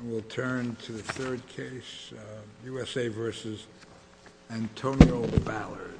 And we'll turn to the third case, U.S.A. v. Antonio Ballard.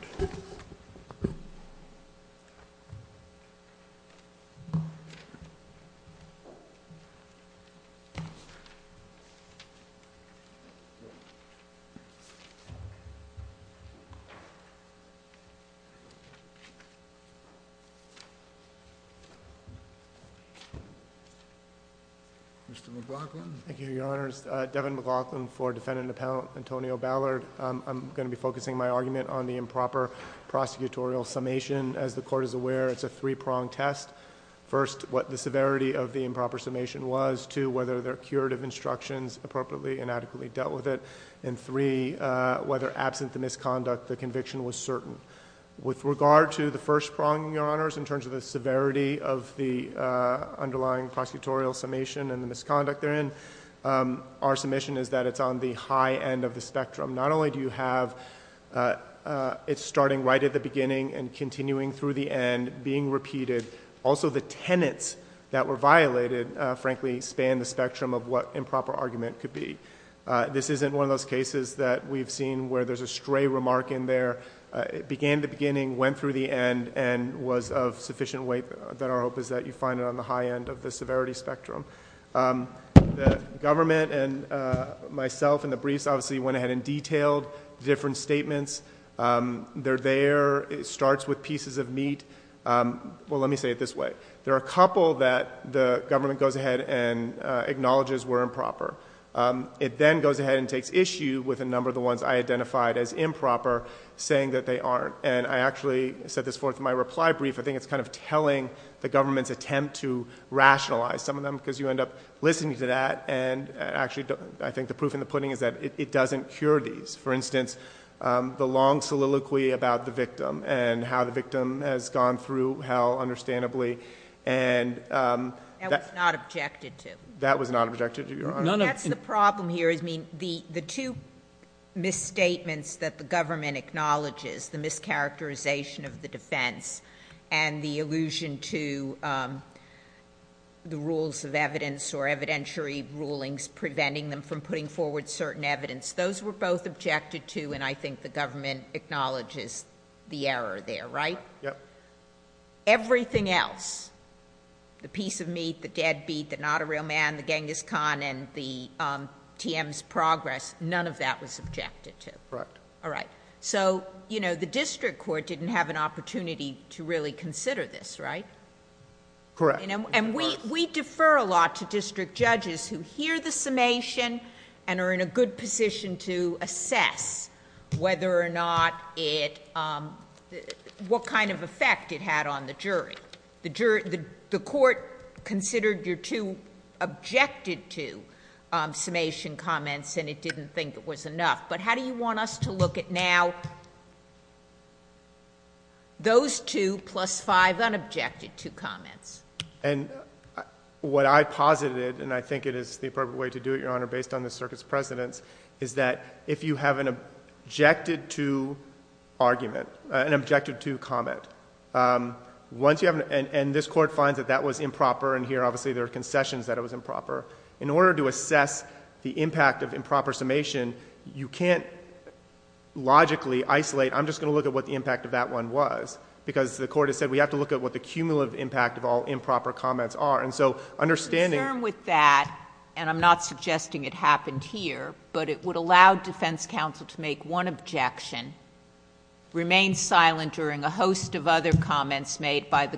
Mr. McLaughlin. Thank you, Your Honors. Devin McLaughlin for Defendant Appellant Antonio Ballard. I'm going to be focusing my argument on the improper prosecutorial summation. As the Court is aware, it's a three-pronged test. First, what the severity of the improper summation was. Two, whether there are curative instructions appropriately and adequately dealt with it. And three, whether absent the misconduct, the conviction was certain. With regard to the first prong, Your Honors, in terms of the severity of the underlying prosecutorial summation and the misconduct therein, our submission is that it's on the high end of the spectrum. Not only do you have it starting right at the beginning and continuing through the end, being repeated, also the tenets that were violated, frankly, span the spectrum of what improper argument could be. This isn't one of those cases that we've seen where there's a stray remark in there. It began at the beginning, went through the end, and was of sufficient weight that our hope is that you find it on the high end of the severity spectrum. The government and myself in the briefs obviously went ahead and detailed different statements. They're there. It starts with pieces of meat. Well, let me say it this way. There are a couple that the government goes ahead and acknowledges were improper. It then goes ahead and takes issue with a number of the ones I identified as improper saying that they aren't. And I actually set this forth in my reply brief. I think it's kind of telling the government's attempt to rationalize some of them because you end up listening to that. And actually, I think the proof in the pudding is that it doesn't cure these. For instance, the long soliloquy about the victim and how the victim has gone through hell understandably. And- That was not objected to. That was not objected to, Your Honor. None of- That's the problem here. I mean, the two misstatements that the government acknowledges, the mischaracterization of the defense and the allusion to the rules of evidence or evidentiary rulings preventing them from putting forward certain evidence, those were both objected to, and I think the government acknowledges the error there, right? Right. Yep. Everything else, the piece of meat, the deadbeat, the not a real man, the Genghis Khan, and the TM's progress, none of that was objected to. Right. All right. So, you know, the district court didn't have an opportunity to really consider this, right? Correct. And we defer a lot to district judges who hear the summation and are in a good position to assess whether or not it... what kind of effect it had on the jury. The court considered your two objected to summation comments and it didn't think it was enough. But how do you want us to look at now those two plus five unobjected to comments? And what I posited, and I think it is the appropriate way to do it, Your Honor, based on the circuit's precedence, is that if you have an objected to argument, an objected to comment, once you have... and this court finds that that was improper, and here obviously In order to assess the impact of improper summation, you can't logically isolate, I'm just going to look at what the impact of that one was. Because the court has said we have to look at what the cumulative impact of all improper comments are. And so understanding... I'm concerned with that, and I'm not suggesting it happened here, but it would allow defense counsel to make one objection, remain silent during a host of other comments made by the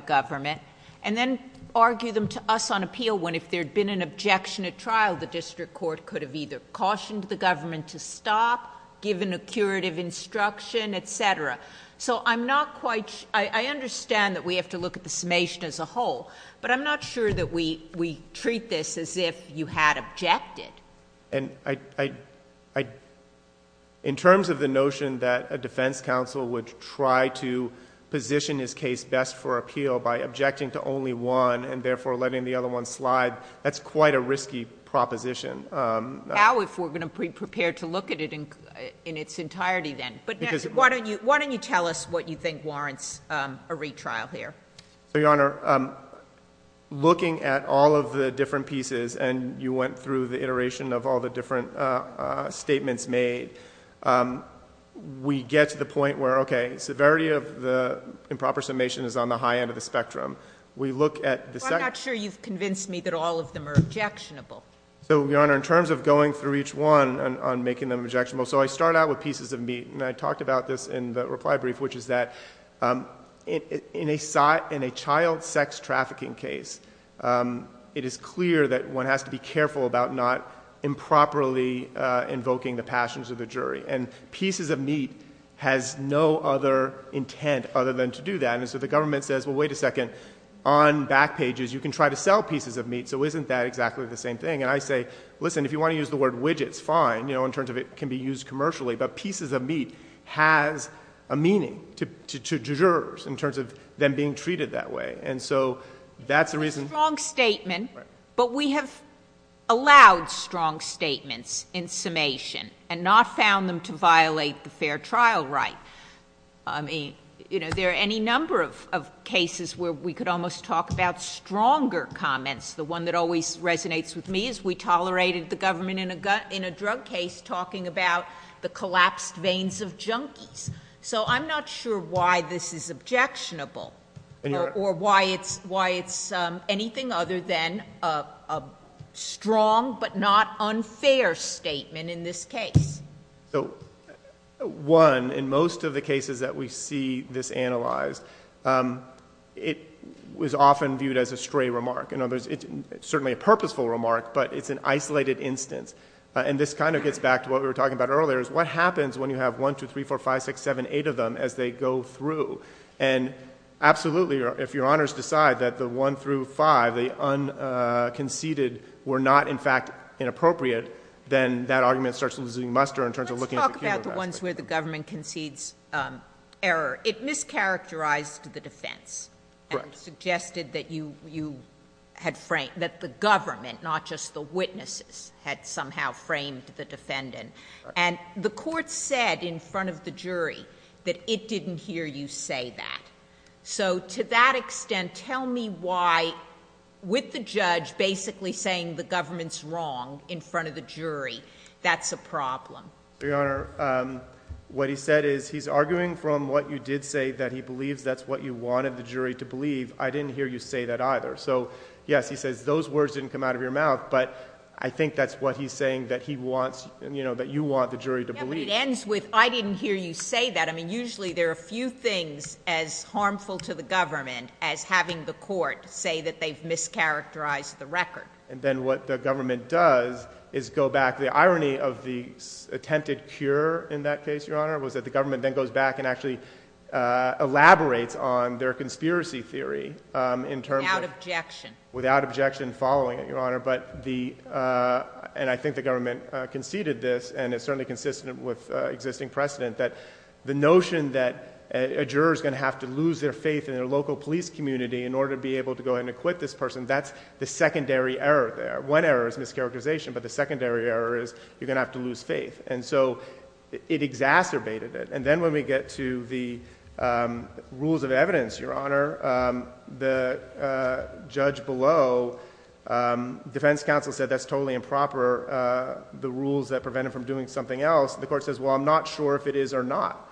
district court could have either cautioned the government to stop, given a curative instruction, etc. So I'm not quite... I understand that we have to look at the summation as a whole, but I'm not sure that we treat this as if you had objected. In terms of the notion that a defense counsel would try to position his case best for appeal by objecting to only one, and therefore letting the other one slide, that's quite a risky proposition. How, if we're going to be prepared to look at it in its entirety, then? Because... Why don't you tell us what you think warrants a retrial here? So, Your Honor, looking at all of the different pieces, and you went through the iteration of all the different statements made, we get to the point where, okay, severity of the case is on the high end of the spectrum. We look at the... Well, I'm not sure you've convinced me that all of them are objectionable. So, Your Honor, in terms of going through each one on making them objectionable, so I start out with pieces of meat, and I talked about this in the reply brief, which is that in a child sex trafficking case, it is clear that one has to be careful about not improperly invoking the passions of the jury, and pieces of meat has no other intent other than to do that. And so the government says, well, wait a second, on back pages, you can try to sell pieces of meat, so isn't that exactly the same thing? And I say, listen, if you want to use the word widgets, fine, you know, in terms of it can be used commercially, but pieces of meat has a meaning to jurors in terms of them being treated that way. And so that's the reason... It's a strong statement, but we have allowed strong statements in summation and not found them to violate the fair trial right. I mean, you know, there are any number of cases where we could almost talk about stronger comments. The one that always resonates with me is we tolerated the government in a drug case talking about the collapsed veins of junkies. So I'm not sure why this is objectionable or why it's anything other than a strong but not unfair statement in this case. So, one, in most of the cases that we see this analyzed, it was often viewed as a stray remark. You know, it's certainly a purposeful remark, but it's an isolated instance. And this kind of gets back to what we were talking about earlier, is what happens when you have one, two, three, four, five, six, seven, eight of them as they go through? And absolutely, if your honors decide that the one through five, the unconceded were not in fact inappropriate, then that argument starts losing muster in terms of looking at the cumulative aspect. Let's talk about the ones where the government concedes error. It mischaracterized the defense and suggested that you had framed, that the government, not just the witnesses, had somehow framed the defendant. And the court said in front of the jury that it didn't hear you say that. So to that extent, tell me why, with the judge basically saying the government's wrong in front of the jury, that's a problem. Your Honor, what he said is he's arguing from what you did say, that he believes that's what you wanted the jury to believe. I didn't hear you say that either. So yes, he says those words didn't come out of your mouth, but I think that's what he's saying that he wants, you know, that you want the jury to believe. Yeah, but it ends with, I didn't hear you say that. I mean, usually there are a few things as harmful to the government as having the court say that they've mischaracterized the record. And then what the government does is go back. The irony of the attempted cure in that case, Your Honor, was that the government then goes back and actually elaborates on their conspiracy theory in terms of- Without objection. Without objection, following it, Your Honor. But the, and I think the government conceded this, and it's certainly consistent with existing precedent, that the notion that a juror's going to have to lose their faith in their local police community in order to be able to go ahead and acquit this person, that's the secondary error there. One error is mischaracterization, but the secondary error is you're going to have to lose faith. And so it exacerbated it. And then when we get to the rules of evidence, Your Honor, the judge below, defense counsel said that's totally improper, the rules that prevent him from doing something else. And the court says, well, I'm not sure if it is or not.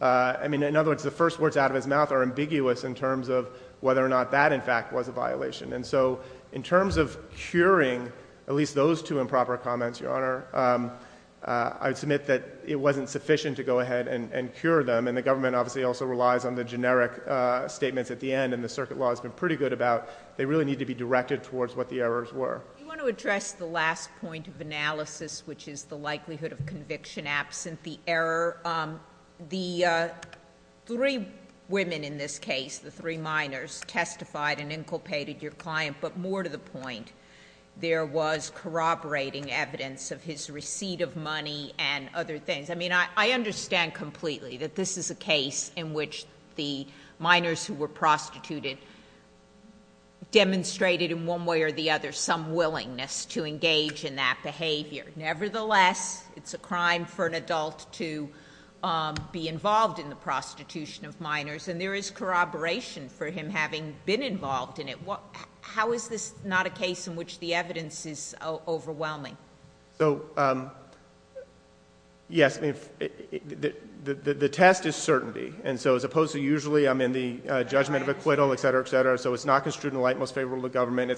I mean, in other words, the first words out of his mouth are ambiguous in terms of whether or not that, in fact, was a violation. And so in terms of curing at least those two improper comments, Your Honor, I would submit that it wasn't sufficient to go ahead and cure them. And the government obviously also relies on the generic statements at the end, and the circuit law has been pretty good about they really need to be directed towards what the errors were. You want to address the last point of analysis, which is the likelihood of conviction absent the error. The three women in this case, the three minors, testified and inculpated your client, but more to the point, there was corroborating evidence of his receipt of money and other things. I mean, I understand completely that this is a case in which the minors who were prostituted demonstrated in one way or the other some willingness to engage in that behavior. Nevertheless, it's a crime for an adult to be involved in the prostitution of minors, and there is corroboration for him having been involved in it. How is this not a case in which the evidence is overwhelming? So yes, the test is certainty. And so as opposed to usually, I'm in the judgment of acquittal, et cetera, et cetera. So it's not construed in the light most favorable to government,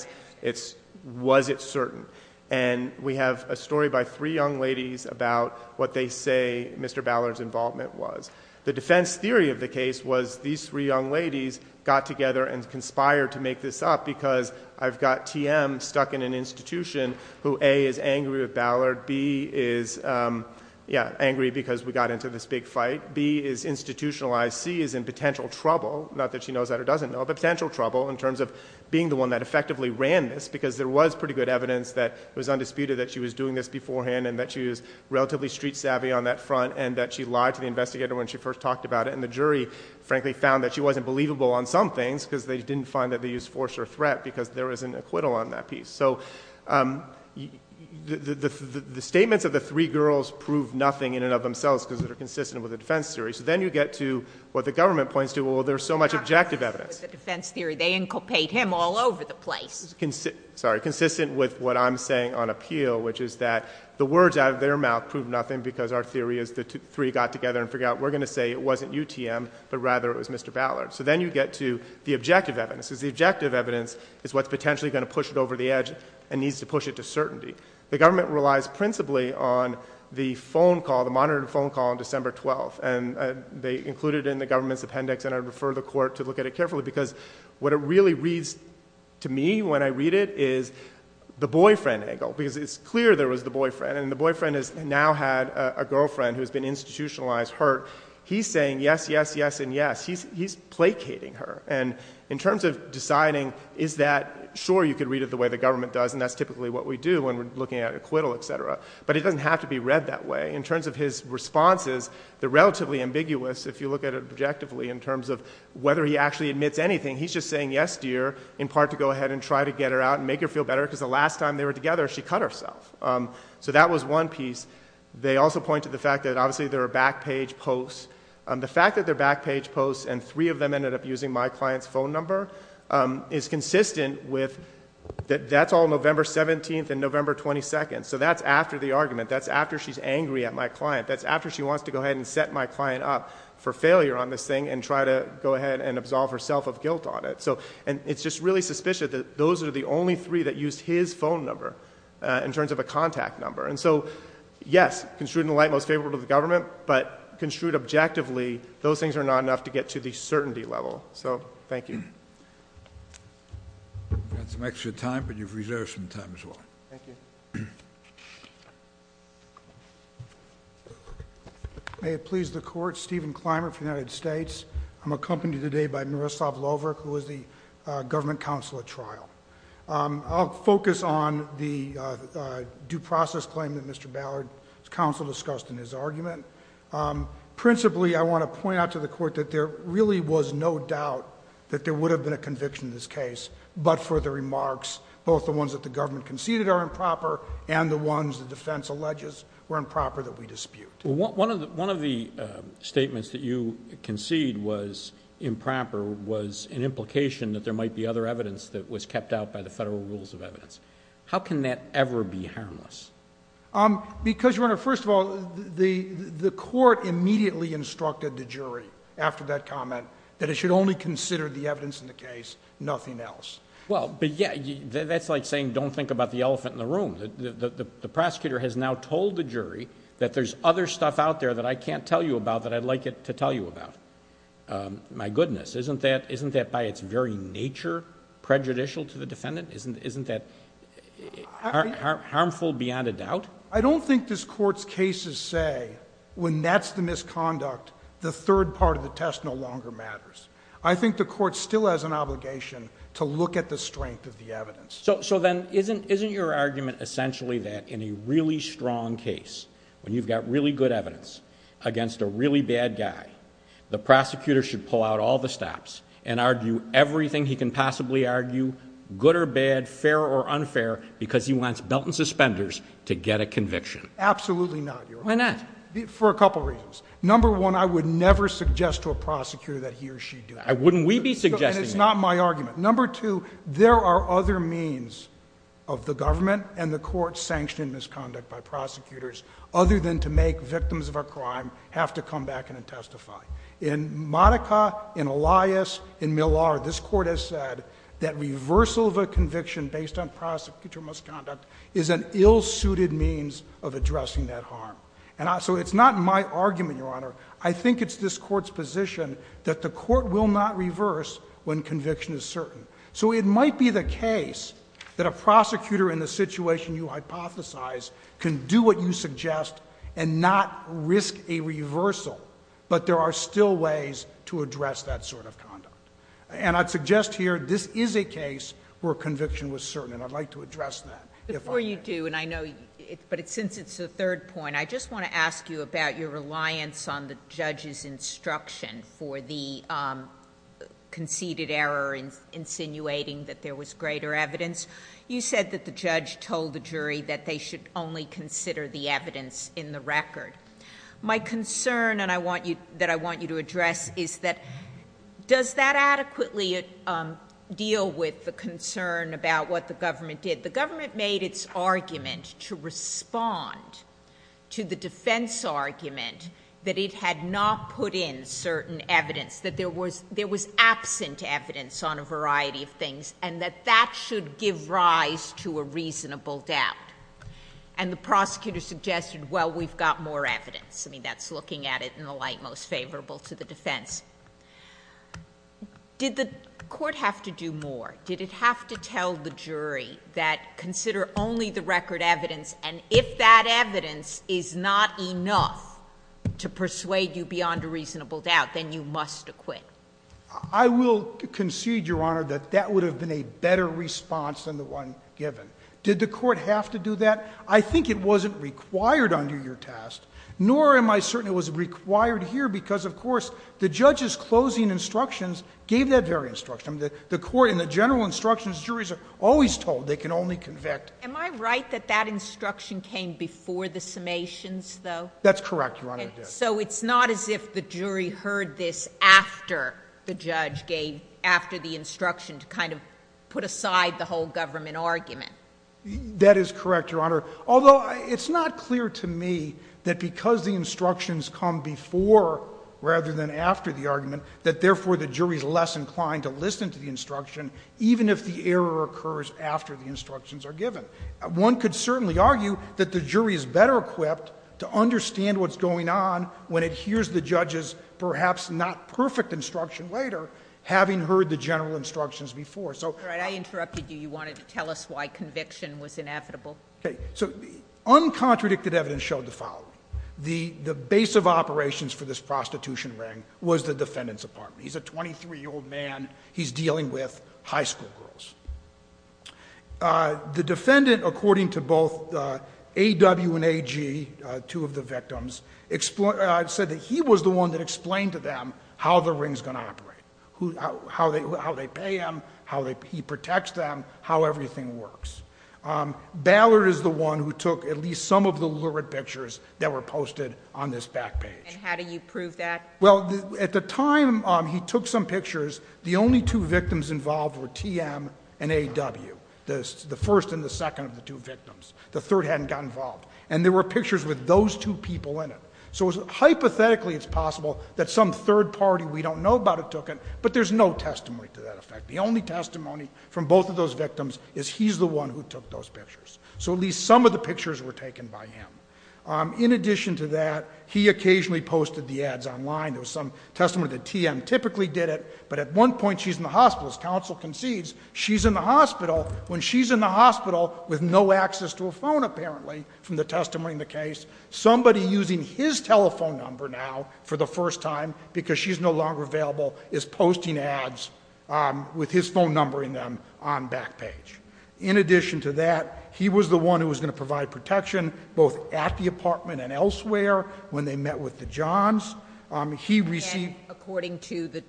it's was it certain? And we have a story by three young ladies about what they say Mr. Ballard's involvement was. The defense theory of the case was these three young ladies got together and conspired to make this up because I've got TM stuck in an institution who A, is angry with Ballard, B, is angry because we got into this big fight, B, is institutionalized, C, is in potential trouble, not that she knows that or doesn't know, but potential trouble in terms of being the one that effectively ran this because there was pretty good evidence that it was undisputed that she was doing this beforehand and that she was relatively street savvy on that front and that she lied to the investigator when she first talked about it and the jury frankly found that she wasn't believable on some things because they didn't find that they used force or threat because there was an acquittal on that piece. So, um, the, the, the, the, the statements of the three girls prove nothing in and of themselves because they're consistent with the defense theory. So then you get to what the government points to. Well, there's so much objective evidence, defense theory, they inculcate him all over the place. Sorry. Consistent with what I'm saying on appeal, which is that the words out of their mouth proved nothing because our theory is the three got together and figured out, we're going to say it wasn't UTM, but rather it was Mr. Ballard. So then you get to the objective evidence is the objective evidence is what's potentially going to push it over the edge and needs to push it to certainty. The government relies principally on the phone call, the monitor phone call on December 12th and they included in the government's appendix and I'd refer the court to look at it carefully because what it really reads to me when I read it is the boyfriend angle because it's clear there was the boyfriend and the boyfriend is now had a girlfriend who has been institutionalized hurt. He's saying yes, yes, yes, and yes, he's, he's placating her. And in terms of deciding, is that sure you could read it the way the government does and that's typically what we do when we're looking at acquittal, et cetera. But it doesn't have to be read that way. In terms of his responses, the relatively ambiguous, if you look at it objectively in terms of whether he actually admits anything, he's just saying yes dear, in part to go ahead and try to get her out and make her feel better because the last time they were together, she cut herself. So that was one piece. They also point to the fact that obviously there are back page posts. The fact that they're back page posts and three of them ended up using my client's phone number is consistent with that. That's all November 17th and November 22nd. So that's after the argument. That's after she's angry at my client. That's after she wants to go ahead and set my client up for failure on this thing and try to go ahead and absolve herself of guilt on it. So, and it's just really suspicious that those are the only three that used his phone number in terms of a contact number. And so yes, construed in the light most favorable to the government, but construed objectively, those things are not enough to get to the certainty level. So thank you. We've got some extra time, but you've reserved some time as well. Thank you. May it please the court, Stephen Clymer from the United States. I'm accompanied today by Niroslav Lovrik, who is the government counsel at trial. I'll focus on the due process claim that Mr. Ballard's counsel discussed in his argument. Principally, I want to point out to the court that there really was no doubt that there would have been a conviction in this case, but for the remarks, both the ones that the government conceded are improper and the ones the defense alleges were improper that we dispute. One of the statements that you concede was improper was an implication that there might be other evidence that was kept out by the federal rules of evidence. How can that ever be harmless? Because your Honor, first of all, the court immediately instructed the jury after that comment that it should only consider the evidence in the case, nothing else. Well, but yeah, that's like saying don't think about the elephant in the room. The prosecutor has now told the jury that there's other stuff out there that I can't tell you about that I'd like to tell you about. My goodness, isn't that by its very nature prejudicial to the defendant? Isn't that harmful beyond a doubt? I don't think this court's cases say when that's the misconduct, the third part of the test no longer matters. I think the court still has an obligation to look at the strength of the evidence. Then isn't your argument essentially that in a really strong case, when you've got really good evidence against a really bad guy, the prosecutor should pull out all the stops and argue everything he can possibly argue, good or bad, fair or unfair, because he wants belt and suspenders to get a conviction? Absolutely not, Your Honor. Why not? For a couple reasons. Number one, I would never suggest to a prosecutor that he or she do that. Wouldn't we be suggesting that? It's not my argument. Number two, there are other means of the government and the court sanctioning misconduct by prosecutors other than to make victims of a crime have to come back in and testify. In Monica, in Elias, in Millard, this court has said that reversal of a conviction based on prosecutor misconduct is an ill-suited means of addressing that harm. It's not my argument, Your Honor. I think it's this court's position that the court will not reverse when conviction is certain. So it might be the case that a prosecutor in the situation you hypothesize can do what you suggest and not risk a reversal, but there are still ways to address that sort of conduct. And I'd suggest here, this is a case where conviction was certain, and I'd like to address that if I may. Before you do, and I know, but since it's the third point, I just want to ask you about your reliance on the judge's instruction for the conceded error insinuating that there was greater evidence. You said that the judge told the jury that they should only consider the evidence in the record. My concern that I want you to address is that, does that adequately deal with the concern about what the government did? The government made its argument to respond to the defense argument that it had not put in certain evidence, that there was absent evidence on a variety of things, and that that should give rise to a reasonable doubt. And the prosecutor suggested, well, we've got more evidence. I mean, that's looking at it in the light most favorable to the defense. Did the court have to do more? Did it have to tell the jury that consider only the record evidence, and if that evidence is not enough to persuade you beyond a reasonable doubt, then you must acquit? I will concede, Your Honor, that that would have been a better response than the one given. Did the court have to do that? I think it wasn't required under your test, nor am I certain it was required here because, of course, the judge's closing instructions gave that very instruction. The court, in the general instructions, juries are always told they can only convict. Am I right that that instruction came before the summations, though? That's correct, Your Honor. So it's not as if the jury heard this after the judge gave, after the instruction to kind of put aside the whole government argument? That is correct, Your Honor. Although it's not clear to me that because the instructions come before rather than after, the jury is less inclined to listen to the instruction even if the error occurs after the instructions are given. One could certainly argue that the jury is better equipped to understand what's going on when it hears the judge's perhaps not perfect instruction later, having heard the general instructions before. So- All right, I interrupted you. You wanted to tell us why conviction was inevitable. Okay, so uncontradicted evidence showed the following. The base of operations for this prostitution ring was the defendant's apartment. He's a 23-year-old man. He's dealing with high school girls. The defendant, according to both AW and AG, two of the victims, said that he was the one that explained to them how the ring's going to operate. How they pay him, how he protects them, how everything works. Ballard is the one who took at least some of the lurid pictures that were posted on this back page. And how do you prove that? Well, at the time he took some pictures, the only two victims involved were TM and AW. The first and the second of the two victims. The third hadn't gotten involved. And there were pictures with those two people in it. So hypothetically it's possible that some third party, we don't know about it, took it. But there's no testimony to that effect. The only testimony from both of those victims is he's the one who took those pictures. So at least some of the pictures were taken by him. In addition to that, he occasionally posted the ads online. There was some testimony that TM typically did it. But at one point she's in the hospital, as counsel concedes, she's in the hospital. When she's in the hospital with no access to a phone apparently from the testimony in the case, somebody using his telephone number now for the first time, because she's no longer available, is posting ads with his phone number in them on back page. In addition to that, he was the one who was going to provide protection, both at the apartment and elsewhere, when they met with the Johns. He received- According to the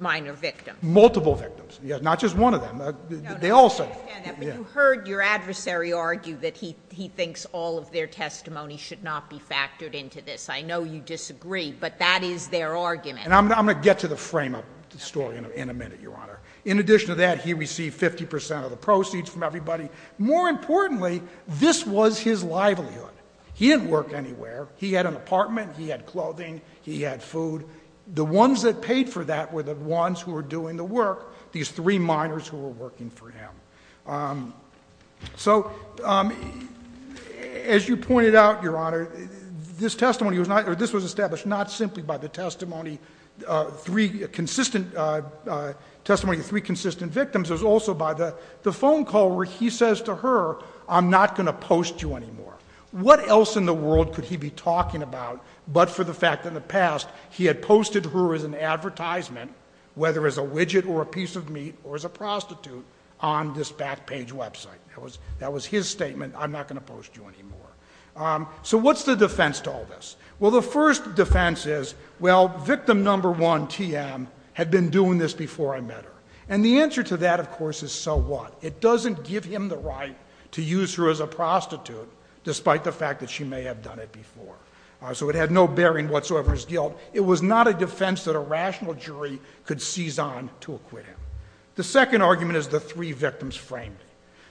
minor victim. Multiple victims, not just one of them. They all say- I understand that, but you heard your adversary argue that he thinks all of their testimony should not be factored into this. I know you disagree, but that is their argument. And I'm going to get to the frame up story in a minute, Your Honor. In addition to that, he received 50% of the proceeds from everybody. More importantly, this was his livelihood. He didn't work anywhere. He had an apartment, he had clothing, he had food. The ones that paid for that were the ones who were doing the work, these three minors who were working for him. So, as you pointed out, Your Honor, this testimony was not, or this was established not simply by the testimony, three consistent, testimony of three consistent victims. It was also by the phone call where he says to her, I'm not going to post you anymore. What else in the world could he be talking about but for the fact that in the past, he had posted her as an advertisement, whether as a widget or a piece of meat, or as a prostitute, on this back page website. That was his statement, I'm not going to post you anymore. So what's the defense to all this? Well, the first defense is, well, victim number one, TM, had been doing this before I met her. And the answer to that, of course, is so what? It doesn't give him the right to use her as a prostitute, despite the fact that she may have done it before. So it had no bearing whatsoever as guilt. It was not a defense that a rational jury could seize on to acquit him. The second argument is the three victims framed.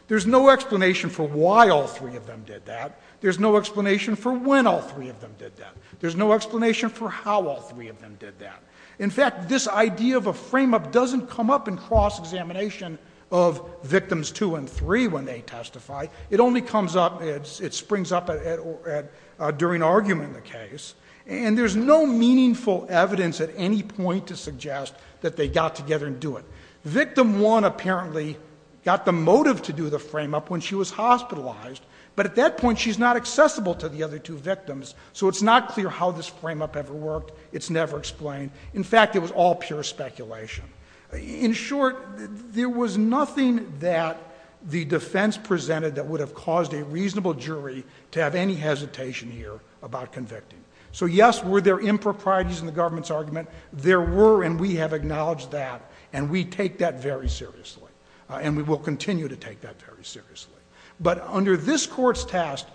There's no explanation for why all three of them did that. There's no explanation for when all three of them did that. There's no explanation for how all three of them did that. In fact, this idea of a frame up doesn't come up in cross examination of victims two and three when they testify. It only comes up, it springs up during argument in the case. And there's no meaningful evidence at any point to suggest that they got together and do it. Victim one apparently got the motive to do the frame up when she was hospitalized. But at that point, she's not accessible to the other two victims. So it's not clear how this frame up ever worked. It's never explained. In fact, it was all pure speculation. In short, there was nothing that the defense presented that would have caused a reasonable jury to have any hesitation here about convicting. So yes, were there improprieties in the government's argument? There were, and we have acknowledged that. And we take that very seriously. And we will continue to take that very seriously. But under this court's test,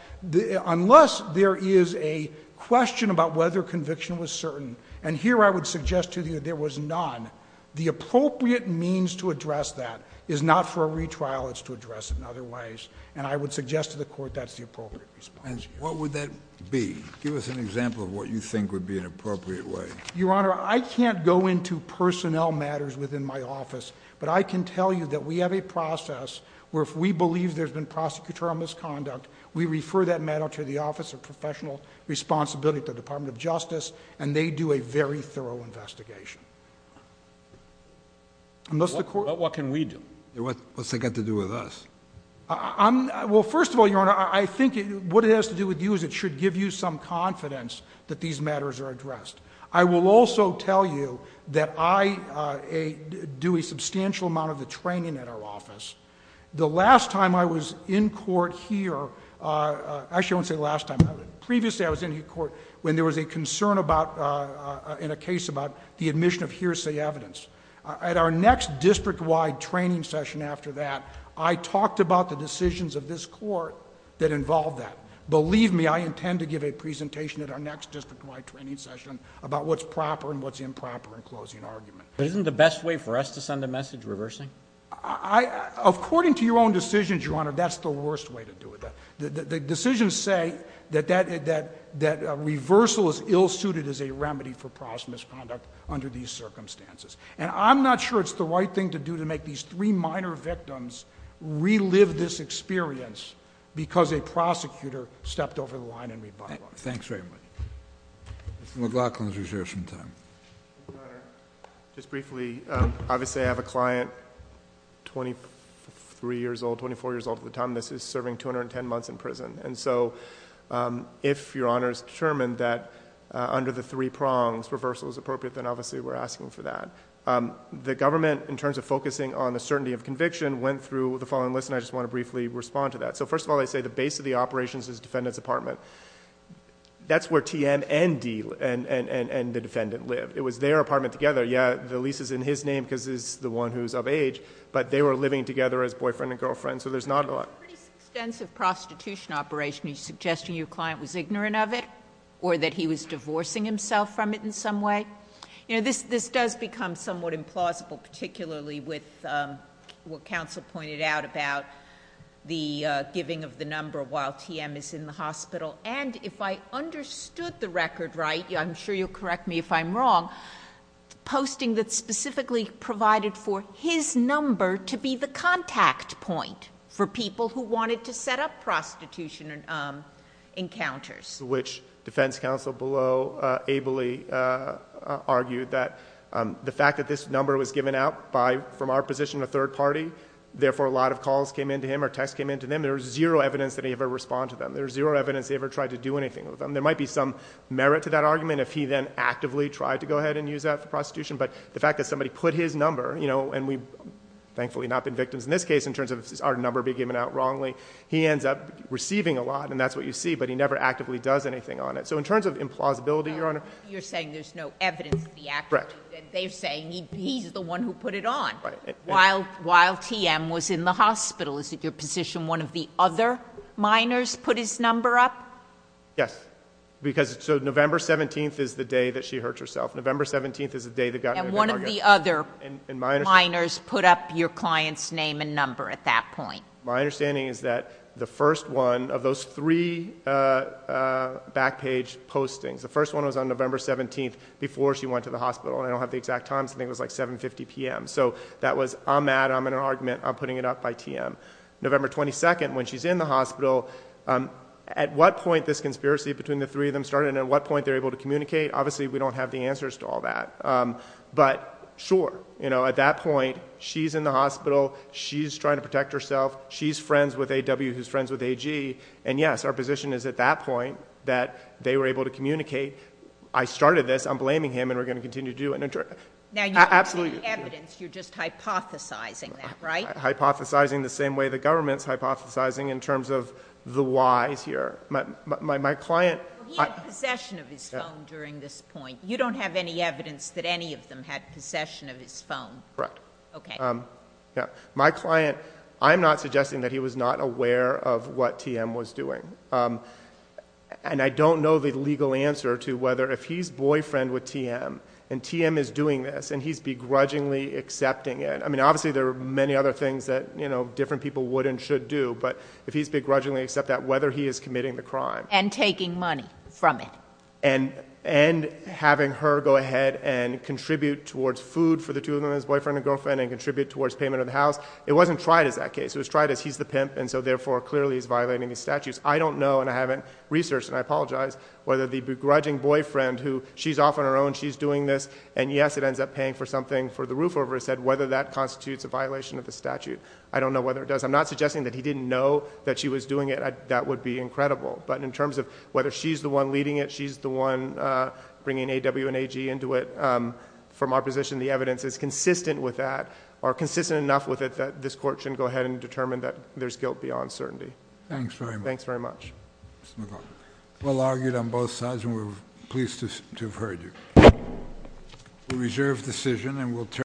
unless there is a question about whether conviction was certain. And here I would suggest to you there was none. The appropriate means to address that is not for a retrial, it's to address it in other ways. And I would suggest to the court that's the appropriate response. What would that be? Give us an example of what you think would be an appropriate way. Your Honor, I can't go into personnel matters within my office. But I can tell you that we have a process where if we believe there's been prosecutorial misconduct, we refer that matter to the Office of Professional Responsibility at the Department of Justice. And they do a very thorough investigation. Unless the court- What can we do? What's that got to do with us? Well, first of all, Your Honor, I think what it has to do with you is it should give you some confidence that these matters are addressed. I will also tell you that I do a substantial amount of the training at our office. The last time I was in court here, actually I won't say last time, previously I was in court when there was a concern in a case about the admission of hearsay evidence. At our next district-wide training session after that, I talked about the decisions of this court that involved that. Believe me, I intend to give a presentation at our next district-wide training session about what's proper and what's improper in closing argument. But isn't the best way for us to send a message reversing? According to your own decisions, Your Honor, that's the worst way to do it. The decisions say that reversal is ill-suited as a remedy for past misconduct under these circumstances. And I'm not sure it's the right thing to do to make these three minor victims relive this experience because a prosecutor stepped over the line and revived it. Thanks very much. Mr. McLaughlin's reserve some time. Just briefly, obviously I have a client 23 years old, 24 years old at the time. This is serving 210 months in prison. And so if Your Honor's determined that under the three prongs, reversal is appropriate, then obviously we're asking for that. The government, in terms of focusing on the certainty of conviction, went through the following list, and I just want to briefly respond to that. So first of all, they say the base of the operations is defendant's apartment. That's where TM and D and the defendant live. It was their apartment together. Yeah, the lease is in his name because he's the one who's of age, but they were living together as boyfriend and girlfriend. So there's not a lot. It's a pretty extensive prostitution operation. Are you suggesting your client was ignorant of it? Or that he was divorcing himself from it in some way? This does become somewhat implausible, particularly with what counsel pointed out about the giving of the number while TM is in the hospital. And if I understood the record right, I'm sure you'll correct me if I'm wrong, posting that specifically provided for his number to be the contact point for people who wanted to set up prostitution encounters. Which defense counsel below ably argued that the fact that this number was given out from our position, a third party. Therefore, a lot of calls came in to him or texts came in to them. There was zero evidence that he ever responded to them. There was zero evidence he ever tried to do anything with them. There might be some merit to that argument if he then actively tried to go ahead and use that for prostitution. But the fact that somebody put his number, and we've thankfully not been victims in this case in terms of our number being given out wrongly. He ends up receiving a lot, and that's what you see, but he never actively does anything on it. So in terms of implausibility, Your Honor. You're saying there's no evidence of the act. Correct. They're saying he's the one who put it on. Right. While TM was in the hospital, is it your position one of the other minors put his number up? Yes. Because, so November 17th is the day that she hurt herself. November 17th is the day that got her- And one of the other minors put up your client's name and number at that point. My understanding is that the first one of those three back page postings, the first one was on November 17th before she went to the hospital. I don't have the exact time, I think it was like 7.50 PM. So that was, I'm mad, I'm in an argument, I'm putting it up by TM. November 22nd, when she's in the hospital, at what point this conspiracy between the three of them started, and at what point they're able to communicate, obviously we don't have the answers to all that. But sure, at that point, she's in the hospital, she's trying to protect herself, she's friends with AW who's friends with AG. And yes, our position is at that point that they were able to communicate, I started this, I'm blaming him, and we're going to continue to do it. Now you don't have any evidence, you're just hypothesizing that, right? Hypothesizing the same way the government's hypothesizing in terms of the whys here. My client- He had possession of his phone during this point. You don't have any evidence that any of them had possession of his phone? Correct. Okay. My client, I'm not suggesting that he was not aware of what TM was doing. And I don't know the legal answer to whether if he's boyfriend with TM, and TM is doing this, and he's begrudgingly accepting it. I mean, obviously there are many other things that different people would and should do, but if he's begrudgingly accept that, whether he is committing the crime. And taking money from it. And having her go ahead and contribute towards food for the two of them, his boyfriend and girlfriend, and contribute towards payment of the house. It wasn't tried as that case. It was tried as he's the pimp, and so therefore, clearly he's violating the statutes. I don't know, and I haven't researched, and I apologize, whether the begrudging boyfriend who she's off on her own, she's doing this. And yes, it ends up paying for something for the roof over her head, whether that constitutes a violation of the statute. I don't know whether it does. I'm not suggesting that he didn't know that she was doing it. That would be incredible. But in terms of whether she's the one leading it, she's the one bringing AW and AG into it. From our position, the evidence is consistent with that, or consistent enough with it that this court should go ahead and determine that there's guilt beyond certainty. Thanks very much. Thanks very much. Mr. McLaughlin. Well argued on both sides, and we're pleased to have heard you. We reserve decision and we'll